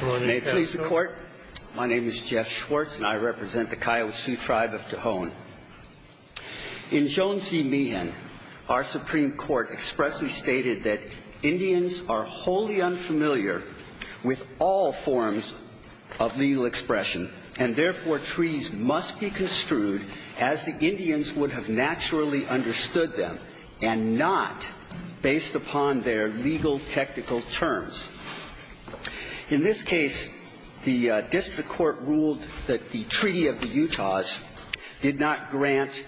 May it please the Court, my name is Jeff Schwartz and I represent the Kiowa Sioux Tribe of Tohon. In Jones v. Meehan, our Supreme Court expressly stated that Indians are wholly unfamiliar with all forms of legal expression and therefore, treaties must be construed as the Indians would have naturally understood them and not based upon their legal technical terms. In this case, the district court ruled that the Treaty of the Utahs did not grant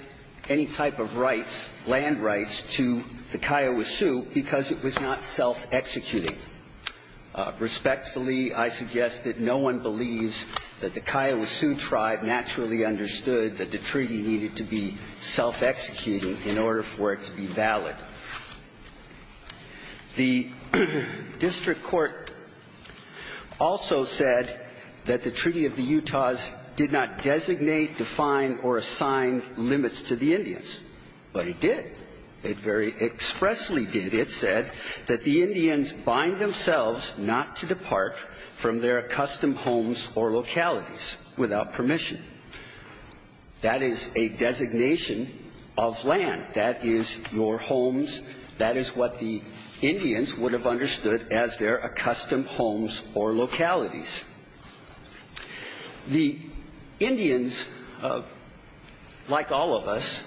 any type of rights, land rights, to the Kiowa Sioux because it was not self-executing. Respectfully, I suggest that no one believes that the Kiowa Sioux Tribe naturally understood that the treaty needed to be self-executing in order for it to be valid. The district court also said that the Treaty of the Utahs did not designate, define, or assign limits to the Indians, but it did. It very expressly did. It said that the Indians bind themselves not to depart from their custom homes or localities without permission. That is a designation of land. That is your homes. That is what the Indians would have understood as their accustomed homes or localities. The Indians, like all of us,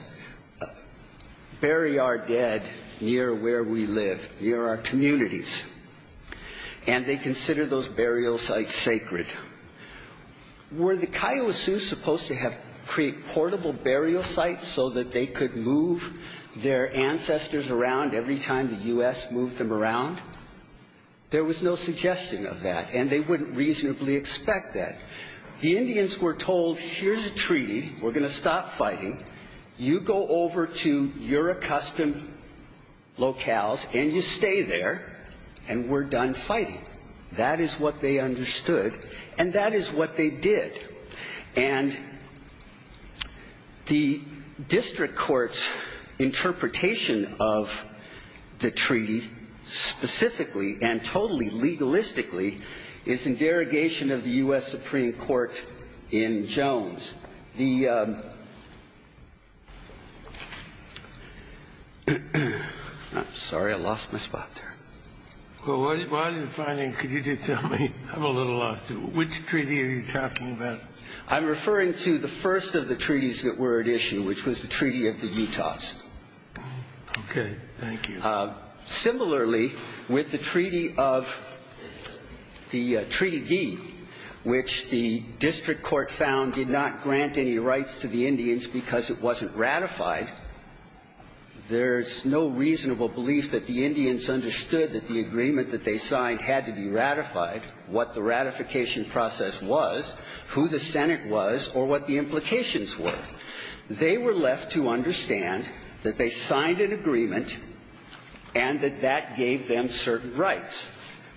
bury our dead near where we live, near our communities, and they consider those burial sites sacred. Were the Kiowa Sioux supposed to create portable burial sites so that they could move their ancestors around every time the U.S. moved them around? There was no suggestion of that, and they wouldn't reasonably expect that. The Indians were told, here's a treaty. We're going to stop fighting. You go over to your accustomed locales, and you stay there, and we're done fighting. That is what they understood, and that is what they did. And the district court's interpretation of the treaty specifically and totally legalistically is in derogation of the U.S. Supreme Court in Jones. I'm sorry. I lost my spot there. Well, while you're filing, could you just tell me? I'm a little lost. Which treaty are you talking about? I'm referring to the first of the treaties that were at issue, which was the Treaty of the Utahs. Okay. Thank you. Similarly, with the Treaty of the Treaty D, which the district court found did not grant any rights to the Indians because it wasn't ratified, there's no reasonable belief that the Indians understood that the agreement that they signed had to be ratified, what the ratification process was, who the Senate was, or what the implications were. They were left to understand that they signed an agreement and that that gave them certain rights.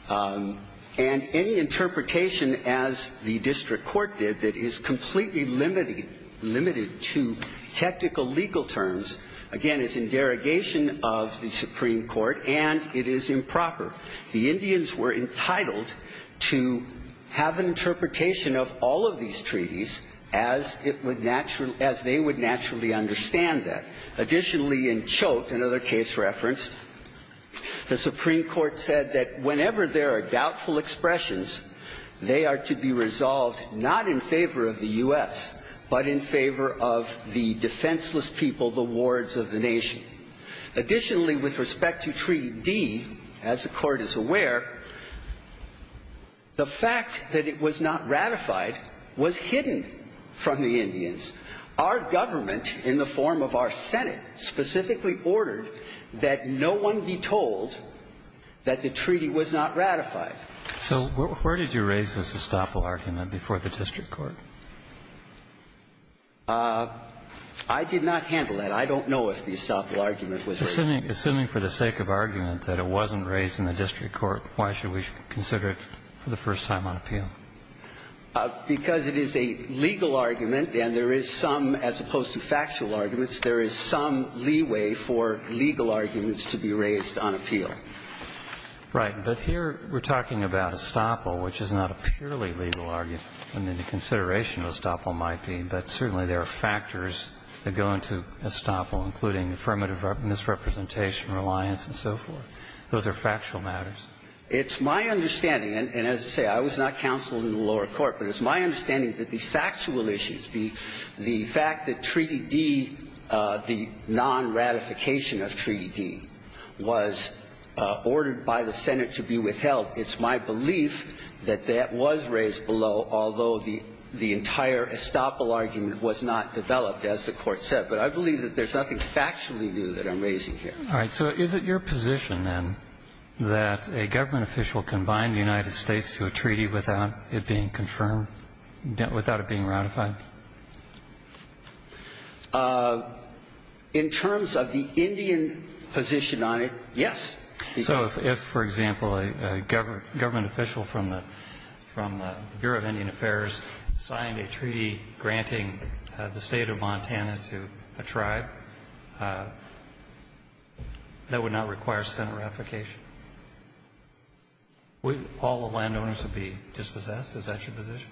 And any interpretation, as the district court did, that is completely limited to technical legal terms, again, is in derogation of the Supreme Court, and it is improper. The Indians were entitled to have an interpretation of all of these treaties as it would naturally as they would naturally understand that. Additionally, in Choate, another case referenced, the Supreme Court said that whenever there are doubtful expressions, they are to be resolved not in favor of the U.S., but in favor of the defenseless people, the wards of the nation. Additionally, with respect to Treaty D, as the Court is aware, the fact that it was not ratified was hidden from the Indians. Our government, in the form of our Senate, specifically ordered that no one be told that the treaty was not ratified. So where did you raise this estoppel argument before the district court? I did not handle that. I don't know if the estoppel argument was raised. Assuming for the sake of argument that it wasn't raised in the district court, why should we consider it for the first time on appeal? Because it is a legal argument, and there is some, as opposed to factual arguments, there is some leeway for legal arguments to be raised on appeal. Right. But here we're talking about estoppel, which is not a purely legal argument. I mean, the consideration of estoppel might be, but certainly there are factors that go into estoppel, including affirmative misrepresentation, reliance, and so forth. Those are factual matters. It's my understanding, and as I say, I was not counsel in the lower court, but it's my understanding that the factual issues, the fact that Treaty D, the non-ratification of Treaty D, was ordered by the Senate to be withheld, it's my belief that that was raised below, although the entire estoppel argument was not developed, as the Court said. But I believe that there's nothing factually new that I'm raising here. All right. So is it your position, then, that a government official can bind the United States to a treaty without it being confirmed, without it being ratified? In terms of the Indian position on it, yes. So if, for example, a government official from the Bureau of Indian Affairs signed a treaty granting the State of Montana to a tribe, that would not require Senate ratification? Would all the landowners be dispossessed? Is that your position?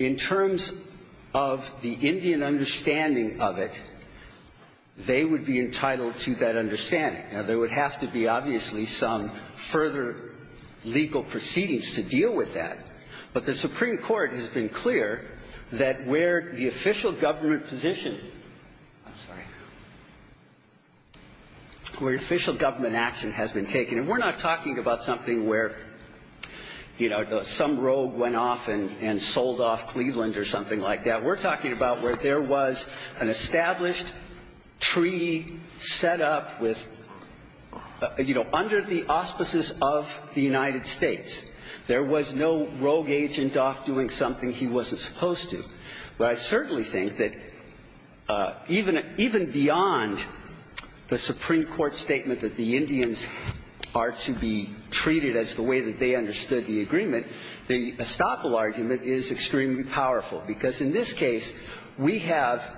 In terms of the Indian understanding of it, they would be entitled to that understanding. Now, there would have to be, obviously, some further legal proceedings to deal with that, but the Supreme Court has been clear that where the official government position – I'm sorry – where official government action has been taken, and we're not talking about something where, you know, some rogue went off and sold off Cleveland or something like that. We're talking about where there was an established treaty set up with – you know, under the auspices of the United States. There was no rogue agent off doing something he wasn't supposed to. But I certainly think that even beyond the Supreme Court statement that the Indians are to be treated as the way that they understood the agreement, the estoppel argument is extremely powerful, because in this case, we have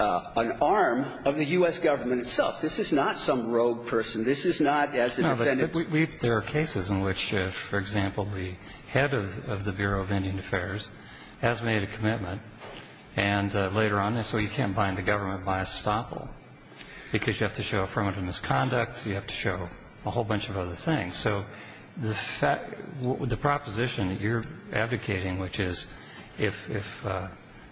an arm of the U.S. Government itself. This is not some rogue person. This is not as a defendant's – No, but there are cases in which, for example, the head of the Bureau of Indian Affairs has made a commitment, and later on, so you can't bind the government by estoppel, because you have to show affirmative misconduct, you have to show a whole bunch of other things. So the proposition that you're advocating, which is if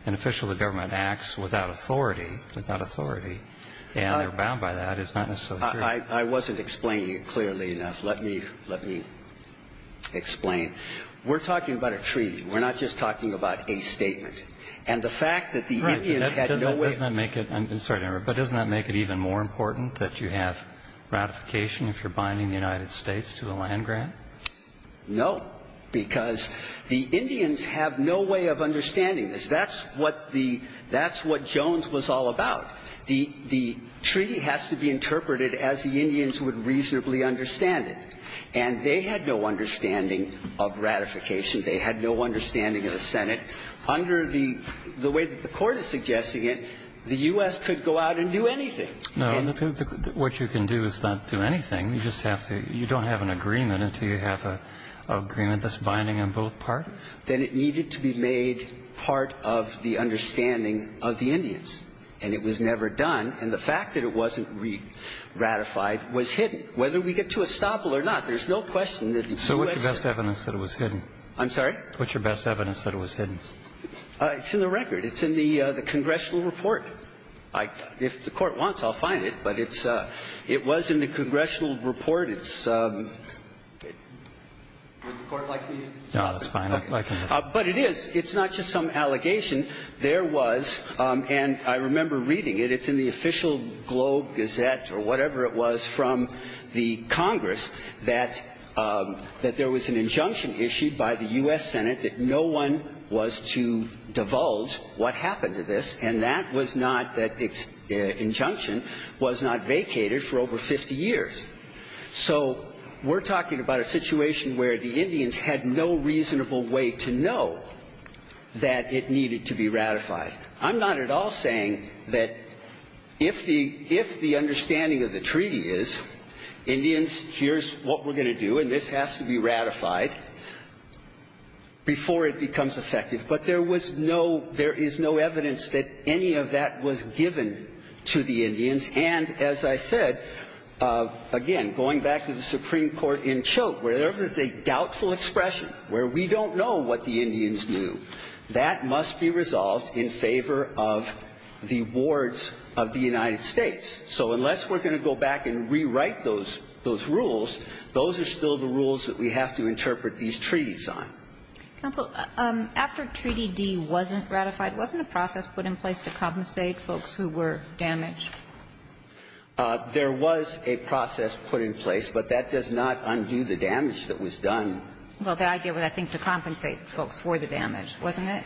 an official of the government acts without authority, without authority, and they're bound by that, it's not necessarily true. I wasn't explaining it clearly enough. Let me – let me explain. We're talking about a treaty. We're not just talking about a statement. And the fact that the Indians had no way of – But doesn't that make it even more important that you have ratification if you're binding the United States to a land grant? No, because the Indians have no way of understanding this. That's what the – that's what Jones was all about. The treaty has to be interpreted as the Indians would reasonably understand it. And they had no understanding of ratification. They had no understanding of the Senate. Under the way that the Court is suggesting it, the U.S. could go out and do anything. No. What you can do is not do anything. You just have to – you don't have an agreement until you have an agreement that's binding on both parties. Then it needed to be made part of the understanding of the Indians. And it was never done. And the fact that it wasn't ratified was hidden. Whether we get to estoppel or not, there's no question that the U.S. So what's the best evidence that it was hidden? I'm sorry? What's your best evidence that it was hidden? It's in the record. It's in the congressional report. If the Court wants, I'll find it. But it's – it was in the congressional report. It's – would the Court like to use it? No, that's fine. I can use it. But it is – it's not just some allegation. There was – and I remember reading it. It's in the official Globe Gazette or whatever it was from the Congress that there was an injunction issued by the U.S. Senate that no one was to divulge what happened to this, and that was not – that injunction was not vacated for over 50 years. So we're talking about a situation where the Indians had no reasonable way to know that it needed to be ratified. I'm not at all saying that if the – if the understanding of the treaty is, Indians, here's what we're going to do, and this has to be ratified before it becomes effective. But there was no – there is no evidence that any of that was given to the Indians. And, as I said, again, going back to the Supreme Court in Chilt, wherever there's a doubtful expression where we don't know what the Indians knew, that must be resolved in favor of the wards of the United States. So unless we're going to go back and rewrite those – those rules, those are still the rules that we have to interpret these treaties on. Counsel, after Treaty D wasn't ratified, wasn't a process put in place to compensate folks who were damaged? There was a process put in place, but that does not undo the damage that was done. Well, the idea was, I think, to compensate folks for the damage, wasn't it?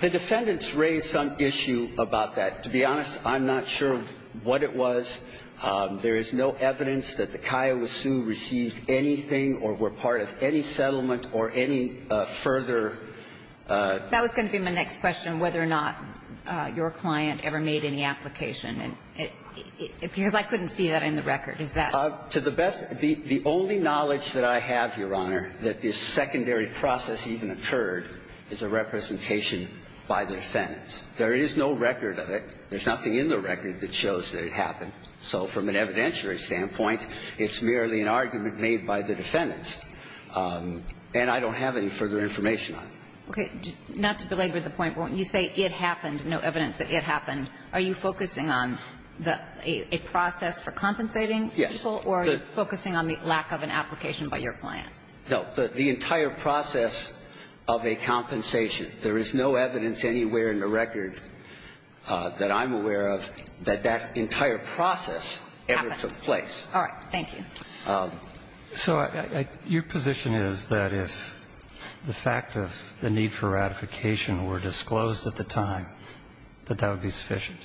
The defendants raised some issue about that. To be honest, I'm not sure what it was. There is no evidence that the Kiowa Sioux received anything or were part of any settlement or any further — That was going to be my next question, whether or not your client ever made any application, because I couldn't see that in the record. Is that — To the best – the only knowledge that I have, Your Honor, that this secondary process even occurred is a representation by the defendants. There is no record of it. There's nothing in the record that shows that it happened. So from an evidentiary standpoint, it's merely an argument made by the defendants. And I don't have any further information on it. Okay. Not to belabor the point, when you say it happened, no evidence that it happened, are you focusing on a process for compensating people? Yes. Or are you focusing on the lack of an application by your client? No. But the entire process of a compensation, there is no evidence anywhere in the record that I'm aware of that that entire process ever took place. All right. Thank you. So your position is that if the fact of the need for ratification were disclosed at the time, that that would be sufficient?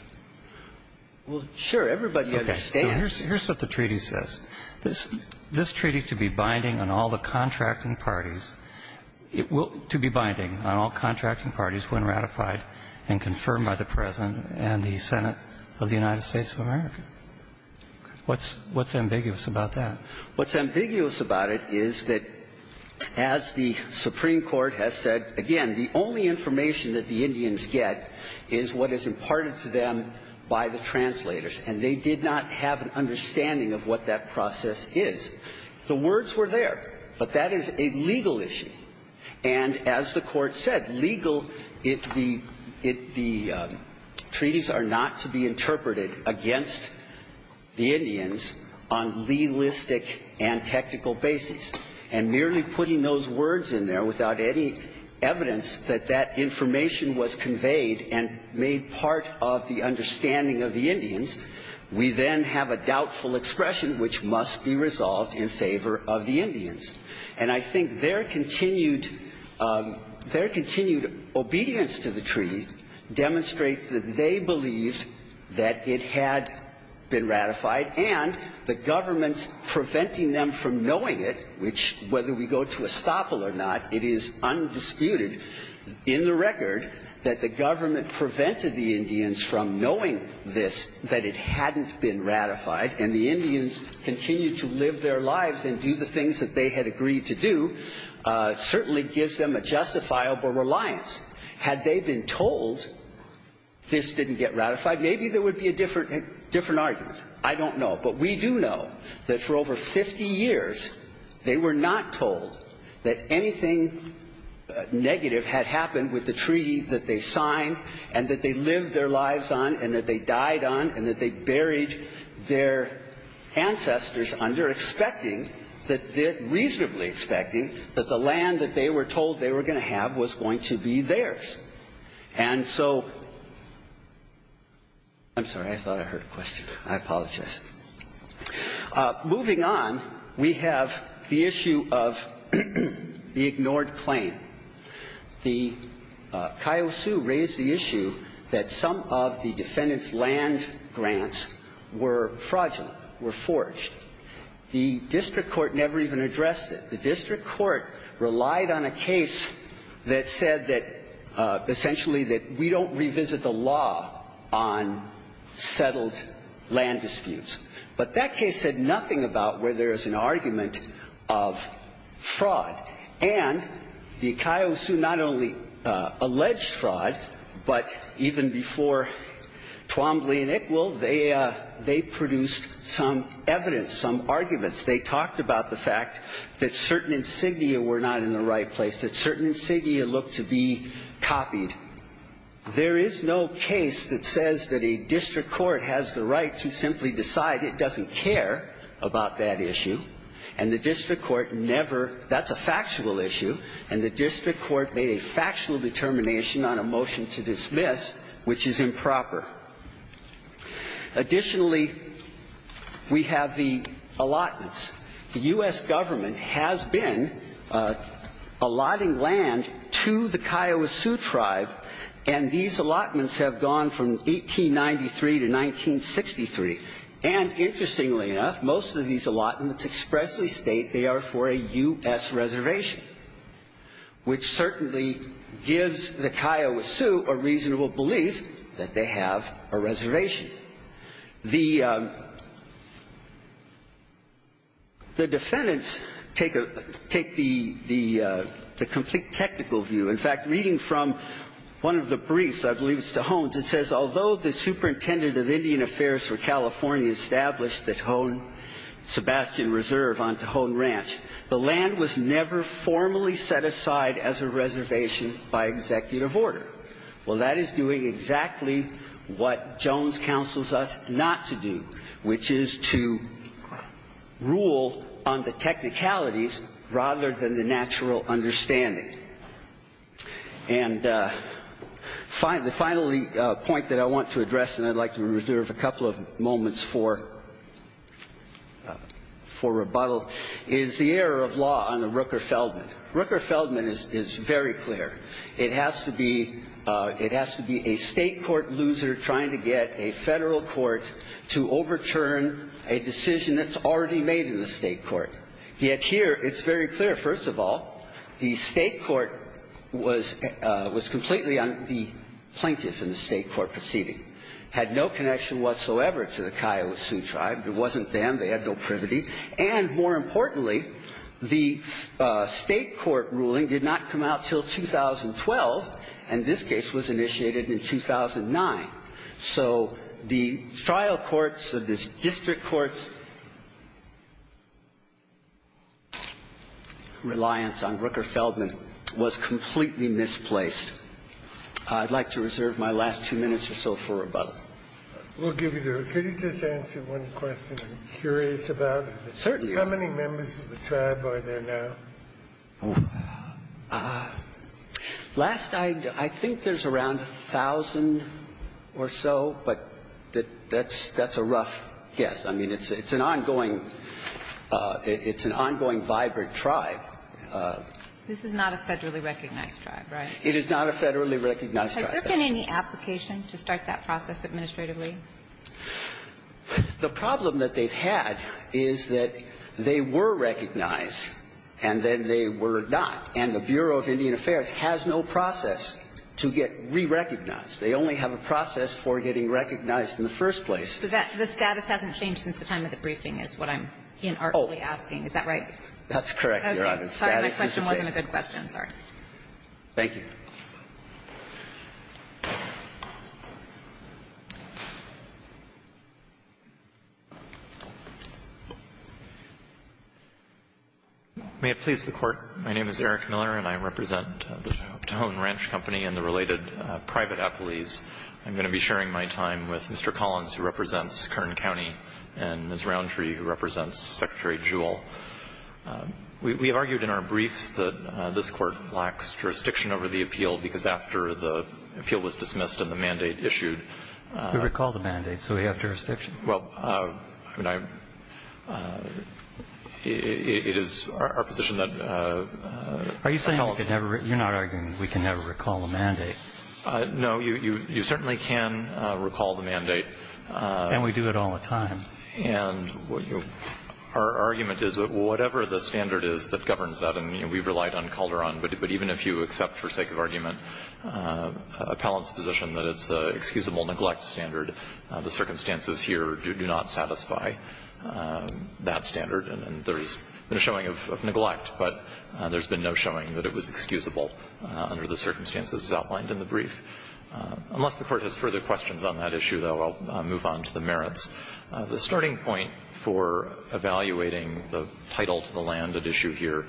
Well, sure. Everybody understands. Okay. So here's what the treaty says. This treaty to be binding on all the contracting parties, to be binding on all contracting parties when ratified and confirmed by the President and the Senate of the United States of America. What's ambiguous about that? What's ambiguous about it is that as the Supreme Court has said, again, the only information that the Indians get is what is imparted to them by the translators. And they did not have an understanding of what that process is. The words were there. But that is a legal issue. And as the Court said, legal, the treaties are not to be interpreted against the Indians on legalistic and technical basis. And merely putting those words in there without any evidence that that information was conveyed and made part of the understanding of the Indians, we then have a doubtful expression which must be resolved in favor of the Indians. And I think their continued obedience to the treaty demonstrates that they believed that it had been ratified and the government preventing them from knowing it, which whether we go to estoppel or not, it is undisputed in the record that the government prevented the Indians from knowing this, that it hadn't been ratified, and the Indians continued to live their lives and do the things that they had agreed to do, certainly gives them a justifiable reliance. Had they been told this didn't get ratified, maybe there would be a different argument. I don't know. But we do know that for over 50 years they were not told that anything negative had happened with the treaty that they signed and that they lived their lives on and that they died on and that they buried their ancestors under, expecting that they – reasonably expecting that the land that they were told they were going to have was going to be theirs. And so – I'm sorry. I thought I heard a question. I apologize. Moving on, we have the issue of the ignored claim. The – Kyle Hsu raised the issue that some of the defendants' land grants were fraudulent, were forged. The district court never even addressed it. The district court relied on a case that said that – essentially that we don't revisit the law on settled land disputes. But that case said nothing about where there is an argument of fraud. And the – Kyle Hsu not only alleged fraud, but even before Twombly and Ickwill, they produced some evidence, some arguments. They talked about the fact that certain insignia were not in the right place, that certain insignia looked to be copied. There is no case that says that a district court has the right to simply decide it doesn't care about that issue. And the district court never – that's a factual issue. And the district court made a factual determination on a motion to dismiss, which is improper. Additionally, we have the allotments. The U.S. government has been allotting land to the Kyle Hsu tribe, and these allotments have gone from 1893 to 1963. And interestingly enough, most of these allotments expressly state they are for a U.S. The defendants take the complete technical view. In fact, reading from one of the briefs, I believe it's to Hone's, it says, although the superintendent of Indian Affairs for California established the Hone Sebastian Reserve on Tahone Ranch, the land was never formally set aside as a reservation by executive order. Well, that is doing exactly what Jones counsels us not to do, which is to rule on the technicalities rather than the natural understanding. And the final point that I want to address, and I'd like to reserve a couple of moments for rebuttal, is the error of law on the Rooker-Feldman. Rooker-Feldman is very clear. It has to be a State court loser trying to get a Federal court to overturn a decision that's already made in the State court. Yet here, it's very clear. First of all, the State court was completely on the plaintiff in the State court proceeding, had no connection whatsoever to the Kyle Hsu tribe. It wasn't them. They had no privity. And, more importantly, the State court ruling did not come out until 2012, and this case was initiated in 2009. So the trial court's or the district court's reliance on Rooker-Feldman was completely misplaced. I'd like to reserve my last two minutes or so for rebuttal. We'll give you the rest. Could you just answer one question I'm curious about? Certainly. How many members of the tribe are there now? Last, I think there's around 1,000 or so, but that's a rough guess. I mean, it's an ongoing, it's an ongoing vibrant tribe. This is not a Federally recognized tribe, right? It is not a Federally recognized tribe. Has there been any application to start that process administratively? The problem that they've had is that they were recognized, and then they were not. And the Bureau of Indian Affairs has no process to get re-recognized. They only have a process for getting recognized in the first place. So the status hasn't changed since the time of the briefing is what I'm asking. Is that right? That's correct, Your Honor. Sorry, my question wasn't a good question. Sorry. Thank you. May it please the Court. My name is Eric Miller, and I represent the Tohono Ranch Company and the related private appellees. I'm going to be sharing my time with Mr. Collins, who represents Kern County, and Ms. Roundtree, who represents Secretary Jewell. We've argued in our briefs that this Court lacks jurisdiction over the appeal because after the appeal was dismissed and the mandate issued. We recall the mandate, so we have jurisdiction. Well, I mean, it is our position that... Are you saying we can never recall the mandate? No. You certainly can recall the mandate. And we do it all the time. And our argument is that whatever the standard is that governs that, and we've relied on Calderon, but even if you accept for sake of argument appellant's position that it's the excusable neglect standard, the circumstances here do not satisfy that standard. And there's been a showing of neglect, but there's been no showing that it was excusable under the circumstances outlined in the brief. Unless the Court has further questions on that issue, though, I'll move on to the next point. The starting point for evaluating the title to the land at issue here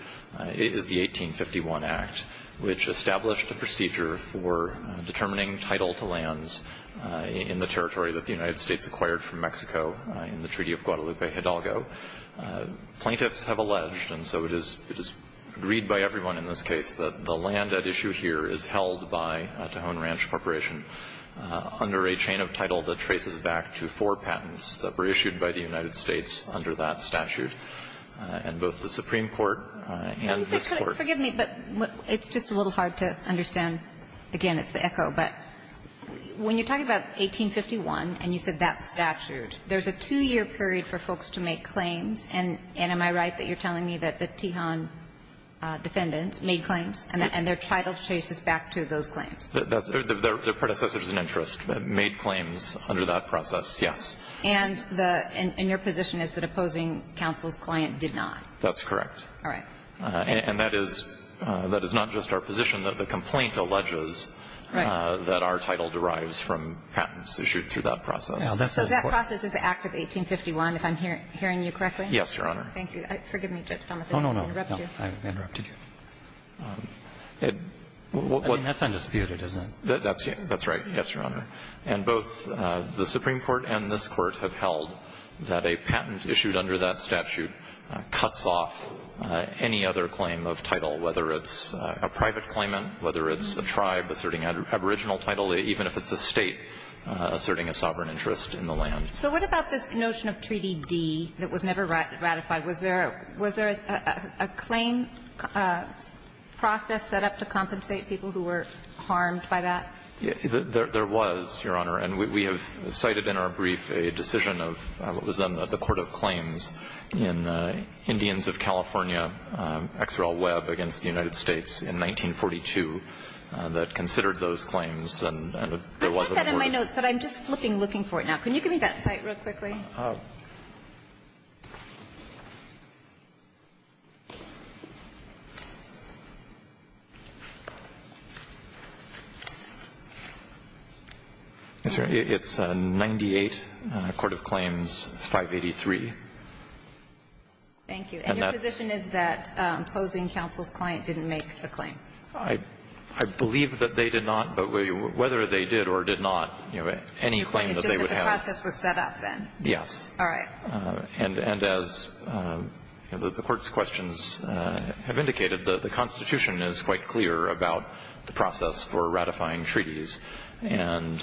is the 1851 Act, which established a procedure for determining title to lands in the territory that the United States acquired from Mexico in the Treaty of Guadalupe Hidalgo. Plaintiffs have alleged, and so it is agreed by everyone in this case, that the land at issue here is held by Tejon Ranch Corporation under a chain of title that traces back to four patents that were issued by the United States under that statute, and both the Supreme Court and this Court. Kagan. Forgive me, but it's just a little hard to understand. Again, it's the echo, but when you're talking about 1851 and you said that statute, there's a two-year period for folks to make claims, and am I right that you're telling me that the Tejon defendants made claims and their title traces back to those claims? The predecessors in interest made claims under that process, yes. And the – and your position is that opposing counsel's client did not? That's correct. All right. And that is – that is not just our position, that the complaint alleges that our title derives from patents issued through that process. So that process is the Act of 1851, if I'm hearing you correctly? Yes, Your Honor. Thank you. Forgive me, Judge Thomas. I interrupted you. No, no, no. I interrupted you. I think that's undisputed, isn't it? That's right. Yes, Your Honor. And both the Supreme Court and this Court have held that a patent issued under that statute cuts off any other claim of title, whether it's a private claimant, whether it's a tribe asserting aboriginal title, even if it's a State asserting a sovereign interest in the land. So what about this notion of Treaty D that was never ratified? Was there – was there a claim process set up to compensate people who were harmed by that? There was, Your Honor. And we have cited in our brief a decision of what was then the Court of Claims in Indians of California, XRL Webb against the United States in 1942 that considered those claims. I have that in my notes, but I'm just flipping looking for it now. Can you give me that cite real quickly? It's 98, Court of Claims 583. Thank you. And your position is that opposing counsel's client didn't make the claim? I believe that they did not. But whether they did or did not, you know, any claim that they would have – Yes. All right. And as the Court's questions have indicated, the Constitution is quite clear about the process for ratifying treaties. And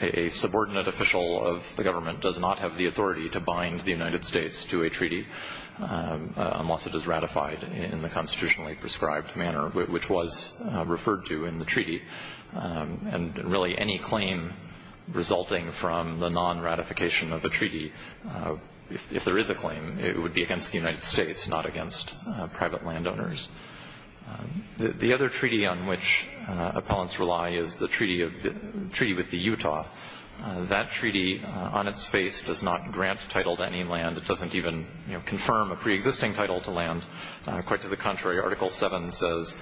a subordinate official of the government does not have the authority to bind the United States to a treaty unless it is ratified in the constitutionally prescribed manner, which was referred to in the treaty. And really, any claim resulting from the non-ratification of a treaty, if there is a claim, it would be against the United States, not against private landowners. The other treaty on which appellants rely is the treaty of – the treaty with the Utah. That treaty on its face does not grant title to any land. It doesn't even, you know, confirm a preexisting title to land. Quite to the contrary, Article VII says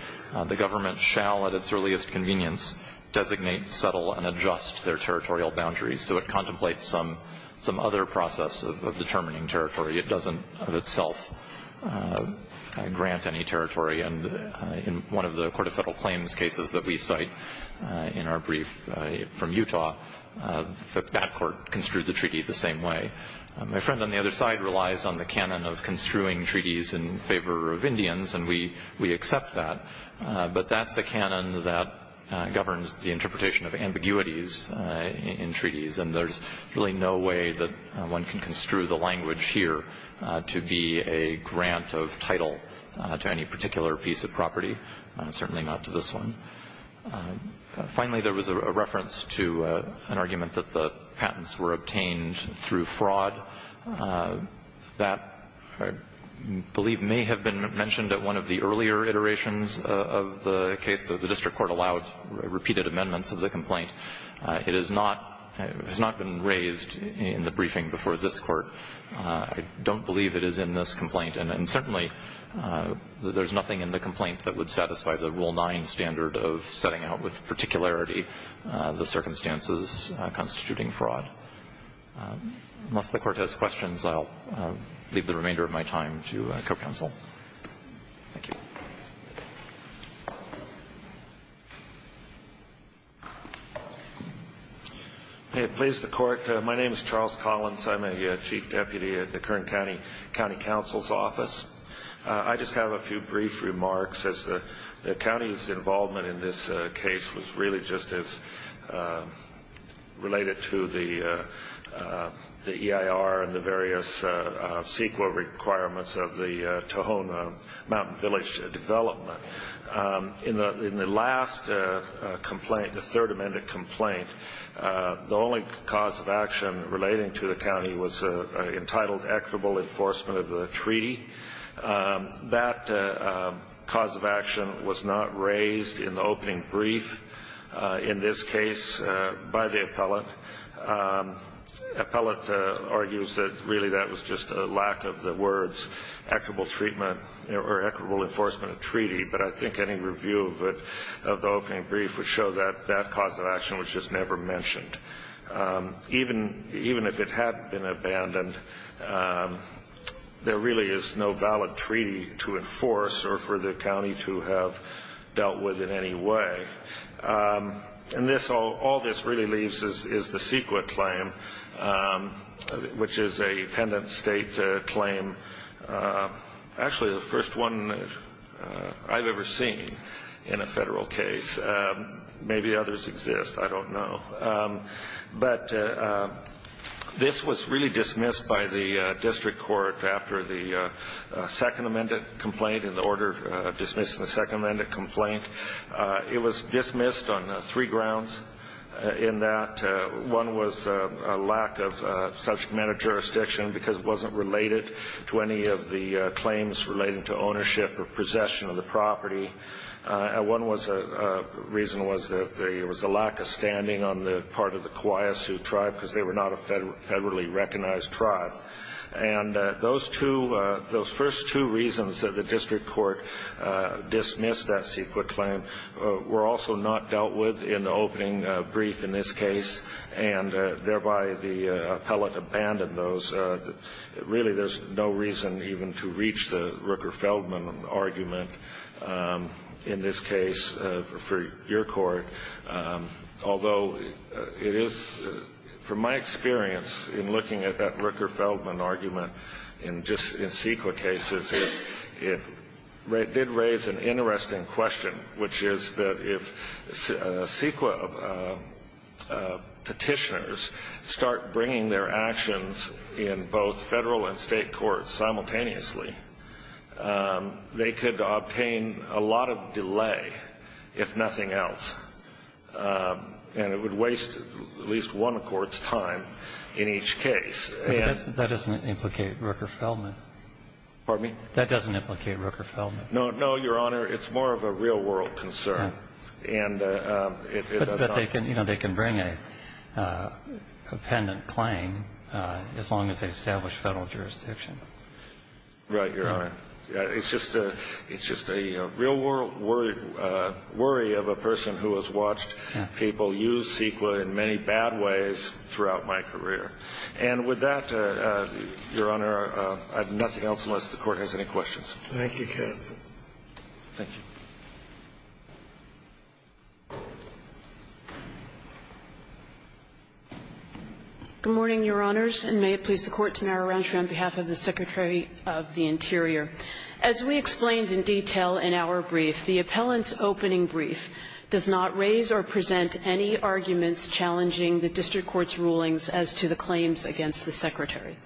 the government shall at its earliest convenience designate, settle, and adjust their territorial boundaries. So it contemplates some other process of determining territory. It doesn't of itself grant any territory. And in one of the Court of Federal Claims cases that we cite in our brief from Utah, that court construed the treaty the same way. My friend on the other side relies on the canon of construing treaties in favor of Indians, and we accept that. But that's a canon that governs the interpretation of ambiguities in treaties, and there's really no way that one can construe the language here to be a grant of title to any particular piece of property, certainly not to this one. Finally, there was a reference to an argument that the patents were obtained through fraud. That, I believe, may have been mentioned at one of the earlier iterations of the case that the district court allowed repeated amendments of the complaint. It is not been raised in the briefing before this Court. I don't believe it is in this complaint. And certainly, there's nothing in the complaint that would satisfy the Rule 9 standard of setting out with particularity the circumstances constituting fraud. Unless the Court has questions, I'll leave the remainder of my time to co-counsel. Thank you. Please, the Court. My name is Charles Collins. I'm a chief deputy at the current county counsel's office. I just have a few brief remarks. The county's involvement in this case was really just as related to the EIR and the various CEQA requirements of the Tohono Mountain Village development. In the last complaint, the third amended complaint, the only cause of action relating to the county was entitled equitable enforcement of the treaty. That cause of action was not raised in the opening brief in this case by the appellate. Appellate argues that really that was just a lack of the words equitable treatment or equitable enforcement of treaty. But I think any review of the opening brief would show that that cause of action was just never mentioned. Even if it had been abandoned, there really is no valid treaty to enforce or for the county to have dealt with in any way. And all this really leaves is the CEQA claim, which is a pendant state claim. Actually, the first one I've ever seen in a federal case. Maybe others exist. I don't know. But this was really dismissed by the district court after the second amended complaint and the order dismissing the second amended complaint. It was dismissed on three grounds in that one was a lack of subject matter jurisdiction because it wasn't related to any of the claims relating to ownership or possession of the property. One reason was that there was a lack of standing on the part of the Kauai Sioux tribe because they were not a federally recognized tribe. And those first two reasons that the district court dismissed that CEQA claim were also not dealt with in the opening brief in this case, and thereby the appellate abandoned those. Really, there's no reason even to reach the Rooker-Feldman argument in this case for your court, although it is, from my experience in looking at that Rooker-Feldman argument in CEQA cases, it did raise an interesting question, which is that if CEQA Petitioners start bringing their actions in both Federal and State courts simultaneously, they could obtain a lot of delay, if nothing else. And it would waste at least one court's time in each case. But that doesn't implicate Rooker-Feldman. Pardon me? That doesn't implicate Rooker-Feldman. No, no, Your Honor. It's more of a real-world concern. And if it does not ---- But they can bring a pendant claim as long as they establish Federal jurisdiction. Right, Your Honor. It's just a real-world worry of a person who has watched people use CEQA in many bad ways throughout my career. And with that, Your Honor, I have nothing else unless the Court has any questions. Thank you, counsel. Thank you. Good morning, Your Honors, and may it please the Court to marry around you on behalf of the Secretary of the Interior. As we explained in detail in our brief, the appellant's opening brief does not raise or present any arguments challenging the district court's rulings as to the claims against the Secretary.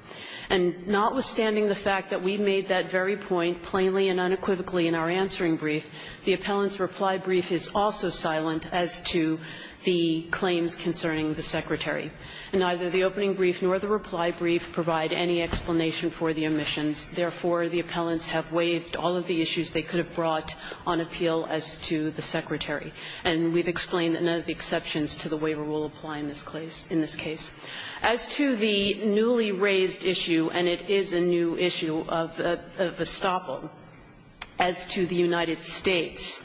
And notwithstanding the fact that we made that very point plainly and unequivocally in our answering brief, the appellant's reply brief is also silent as to the claims concerning the Secretary. And neither the opening brief nor the reply brief provide any explanation for the omissions. Therefore, the appellants have waived all of the issues they could have brought on appeal as to the Secretary. And we've explained that none of the exceptions to the waiver rule apply in this case. As to the newly raised issue, and it is a new issue of estoppel, as to the United States,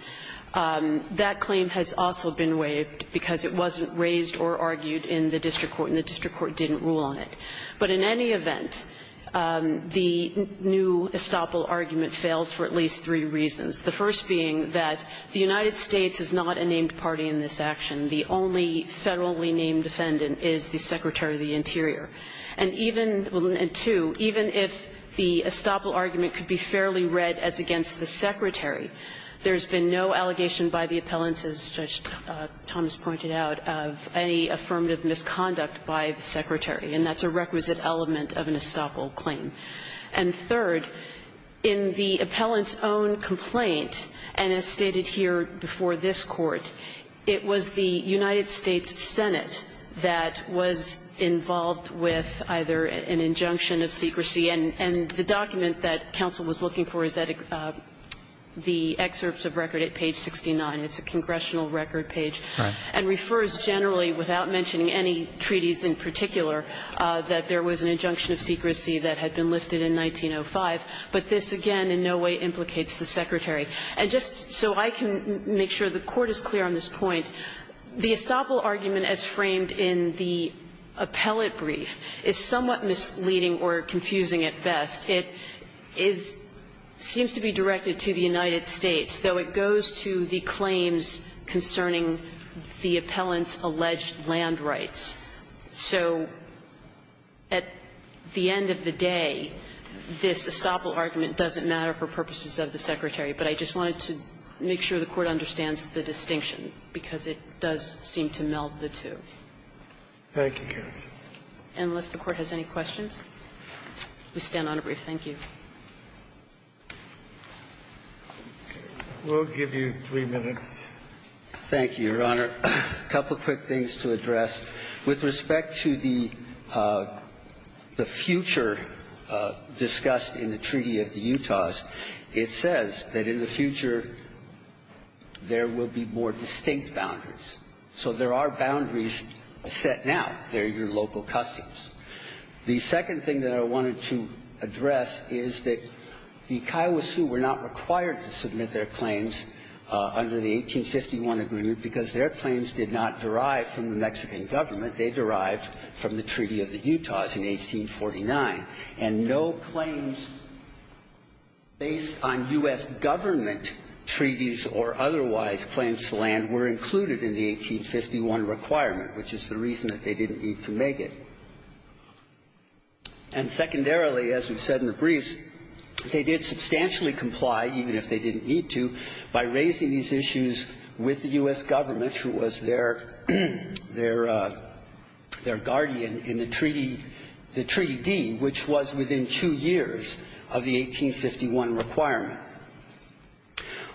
that claim has also been waived because it wasn't raised or argued in the district court, and the district court didn't rule on it. But in any event, the new estoppel argument fails for at least three reasons, the first being that the United States is not a named party in this action. The only federally named defendant is the Secretary of the Interior. And even the two, even if the estoppel argument could be fairly read as against the Secretary, there's been no allegation by the appellants, as Judge Thomas pointed out, of any affirmative misconduct by the Secretary, and that's a requisite element of an estoppel claim. And third, in the appellant's own complaint, and as stated here before this Court, it was the United States Senate that was involved with either an injunction of secrecy, and the document that counsel was looking for is at the excerpts of record at page 69, it's a congressional record page, and refers generally without mentioning any treaties in particular, that there was an injunction of secrecy that had been lifted in 1905, but this again in no way implicates the Secretary. And just so I can make sure the Court is clear on this point, the estoppel argument as framed in the appellate brief is somewhat misleading or confusing at best. It is seems to be directed to the United States, though it goes to the claims concerning the appellant's alleged land rights. So at the end of the day, this estoppel argument doesn't matter for purposes of the Secretary, but I just wanted to make sure the Court understands the distinction, because it does seem to meld the two. Thank you, Your Honor. Unless the Court has any questions, we stand on a brief. Thank you. We'll give you three minutes. Thank you, Your Honor. A couple of quick things to address. With respect to the future discussed in the Treaty of the Utahs, it says that in the future there will be more distinct boundaries. So there are boundaries set now. They're your local customs. The second thing that I wanted to address is that the Kiowa Sioux were not required to submit their claims under the 1851 agreement, because their claims did not derive from the Mexican government. They derived from the Treaty of the Utahs in 1849. And no claims based on U.S. government treaties or otherwise claims to land were included in the 1851 requirement, which is the reason that they didn't need to make it. And secondarily, as we've said in the briefs, they did substantially comply, even if they didn't need to, by raising these issues with the U.S. government, who was their guardian in the treaty, the Treaty D, which was within two years of the 1851 requirement.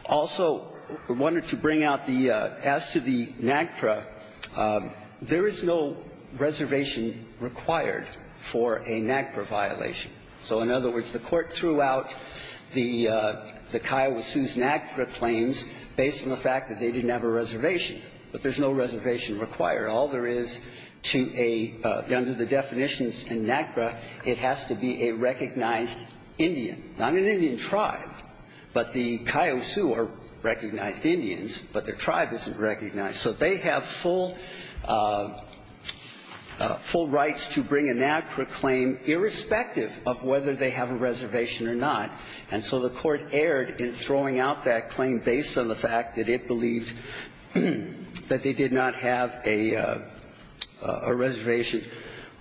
Also, I wanted to bring out the as to the NAGPRA, there is no reservation required for a NAGPRA violation. So in other words, the Court threw out the Kiowa Sioux's NAGPRA claims based on the fact that they didn't have a reservation. But there's no reservation required. All there is to a under the definitions in NAGPRA, it has to be a recognized Indian, not an Indian tribe. But the Kiowa Sioux are recognized Indians, but their tribe isn't recognized. So they have full rights to bring a NAGPRA claim irrespective of whether they have a reservation or not. And so the Court erred in throwing out that claim based on the fact that it believed that they did not have a reservation.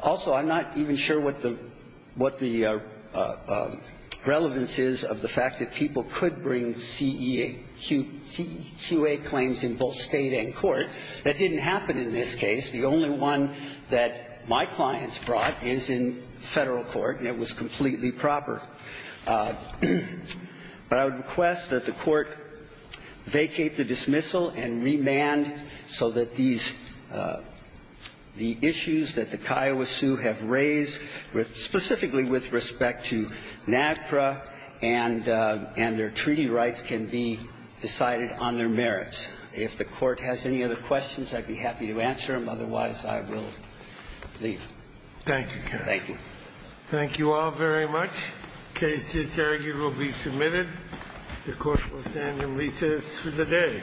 Also, I'm not even sure what the relevance is of the fact that people could bring CEA – CEQA claims in both State and court. That didn't happen in this case. The only one that my clients brought is in Federal court, and it was completely proper. But I would request that the Court vacate the dismissal and remand so that these issues that the Kiowa Sioux have raised specifically with respect to NAGPRA and their treaty rights can be decided on their merits. If the Court has any other questions, I'd be happy to answer them. Otherwise, I will leave. Thank you, counsel. Thank you. Thank you all very much. The case is arguably submitted. The Court will stand in recess for the day.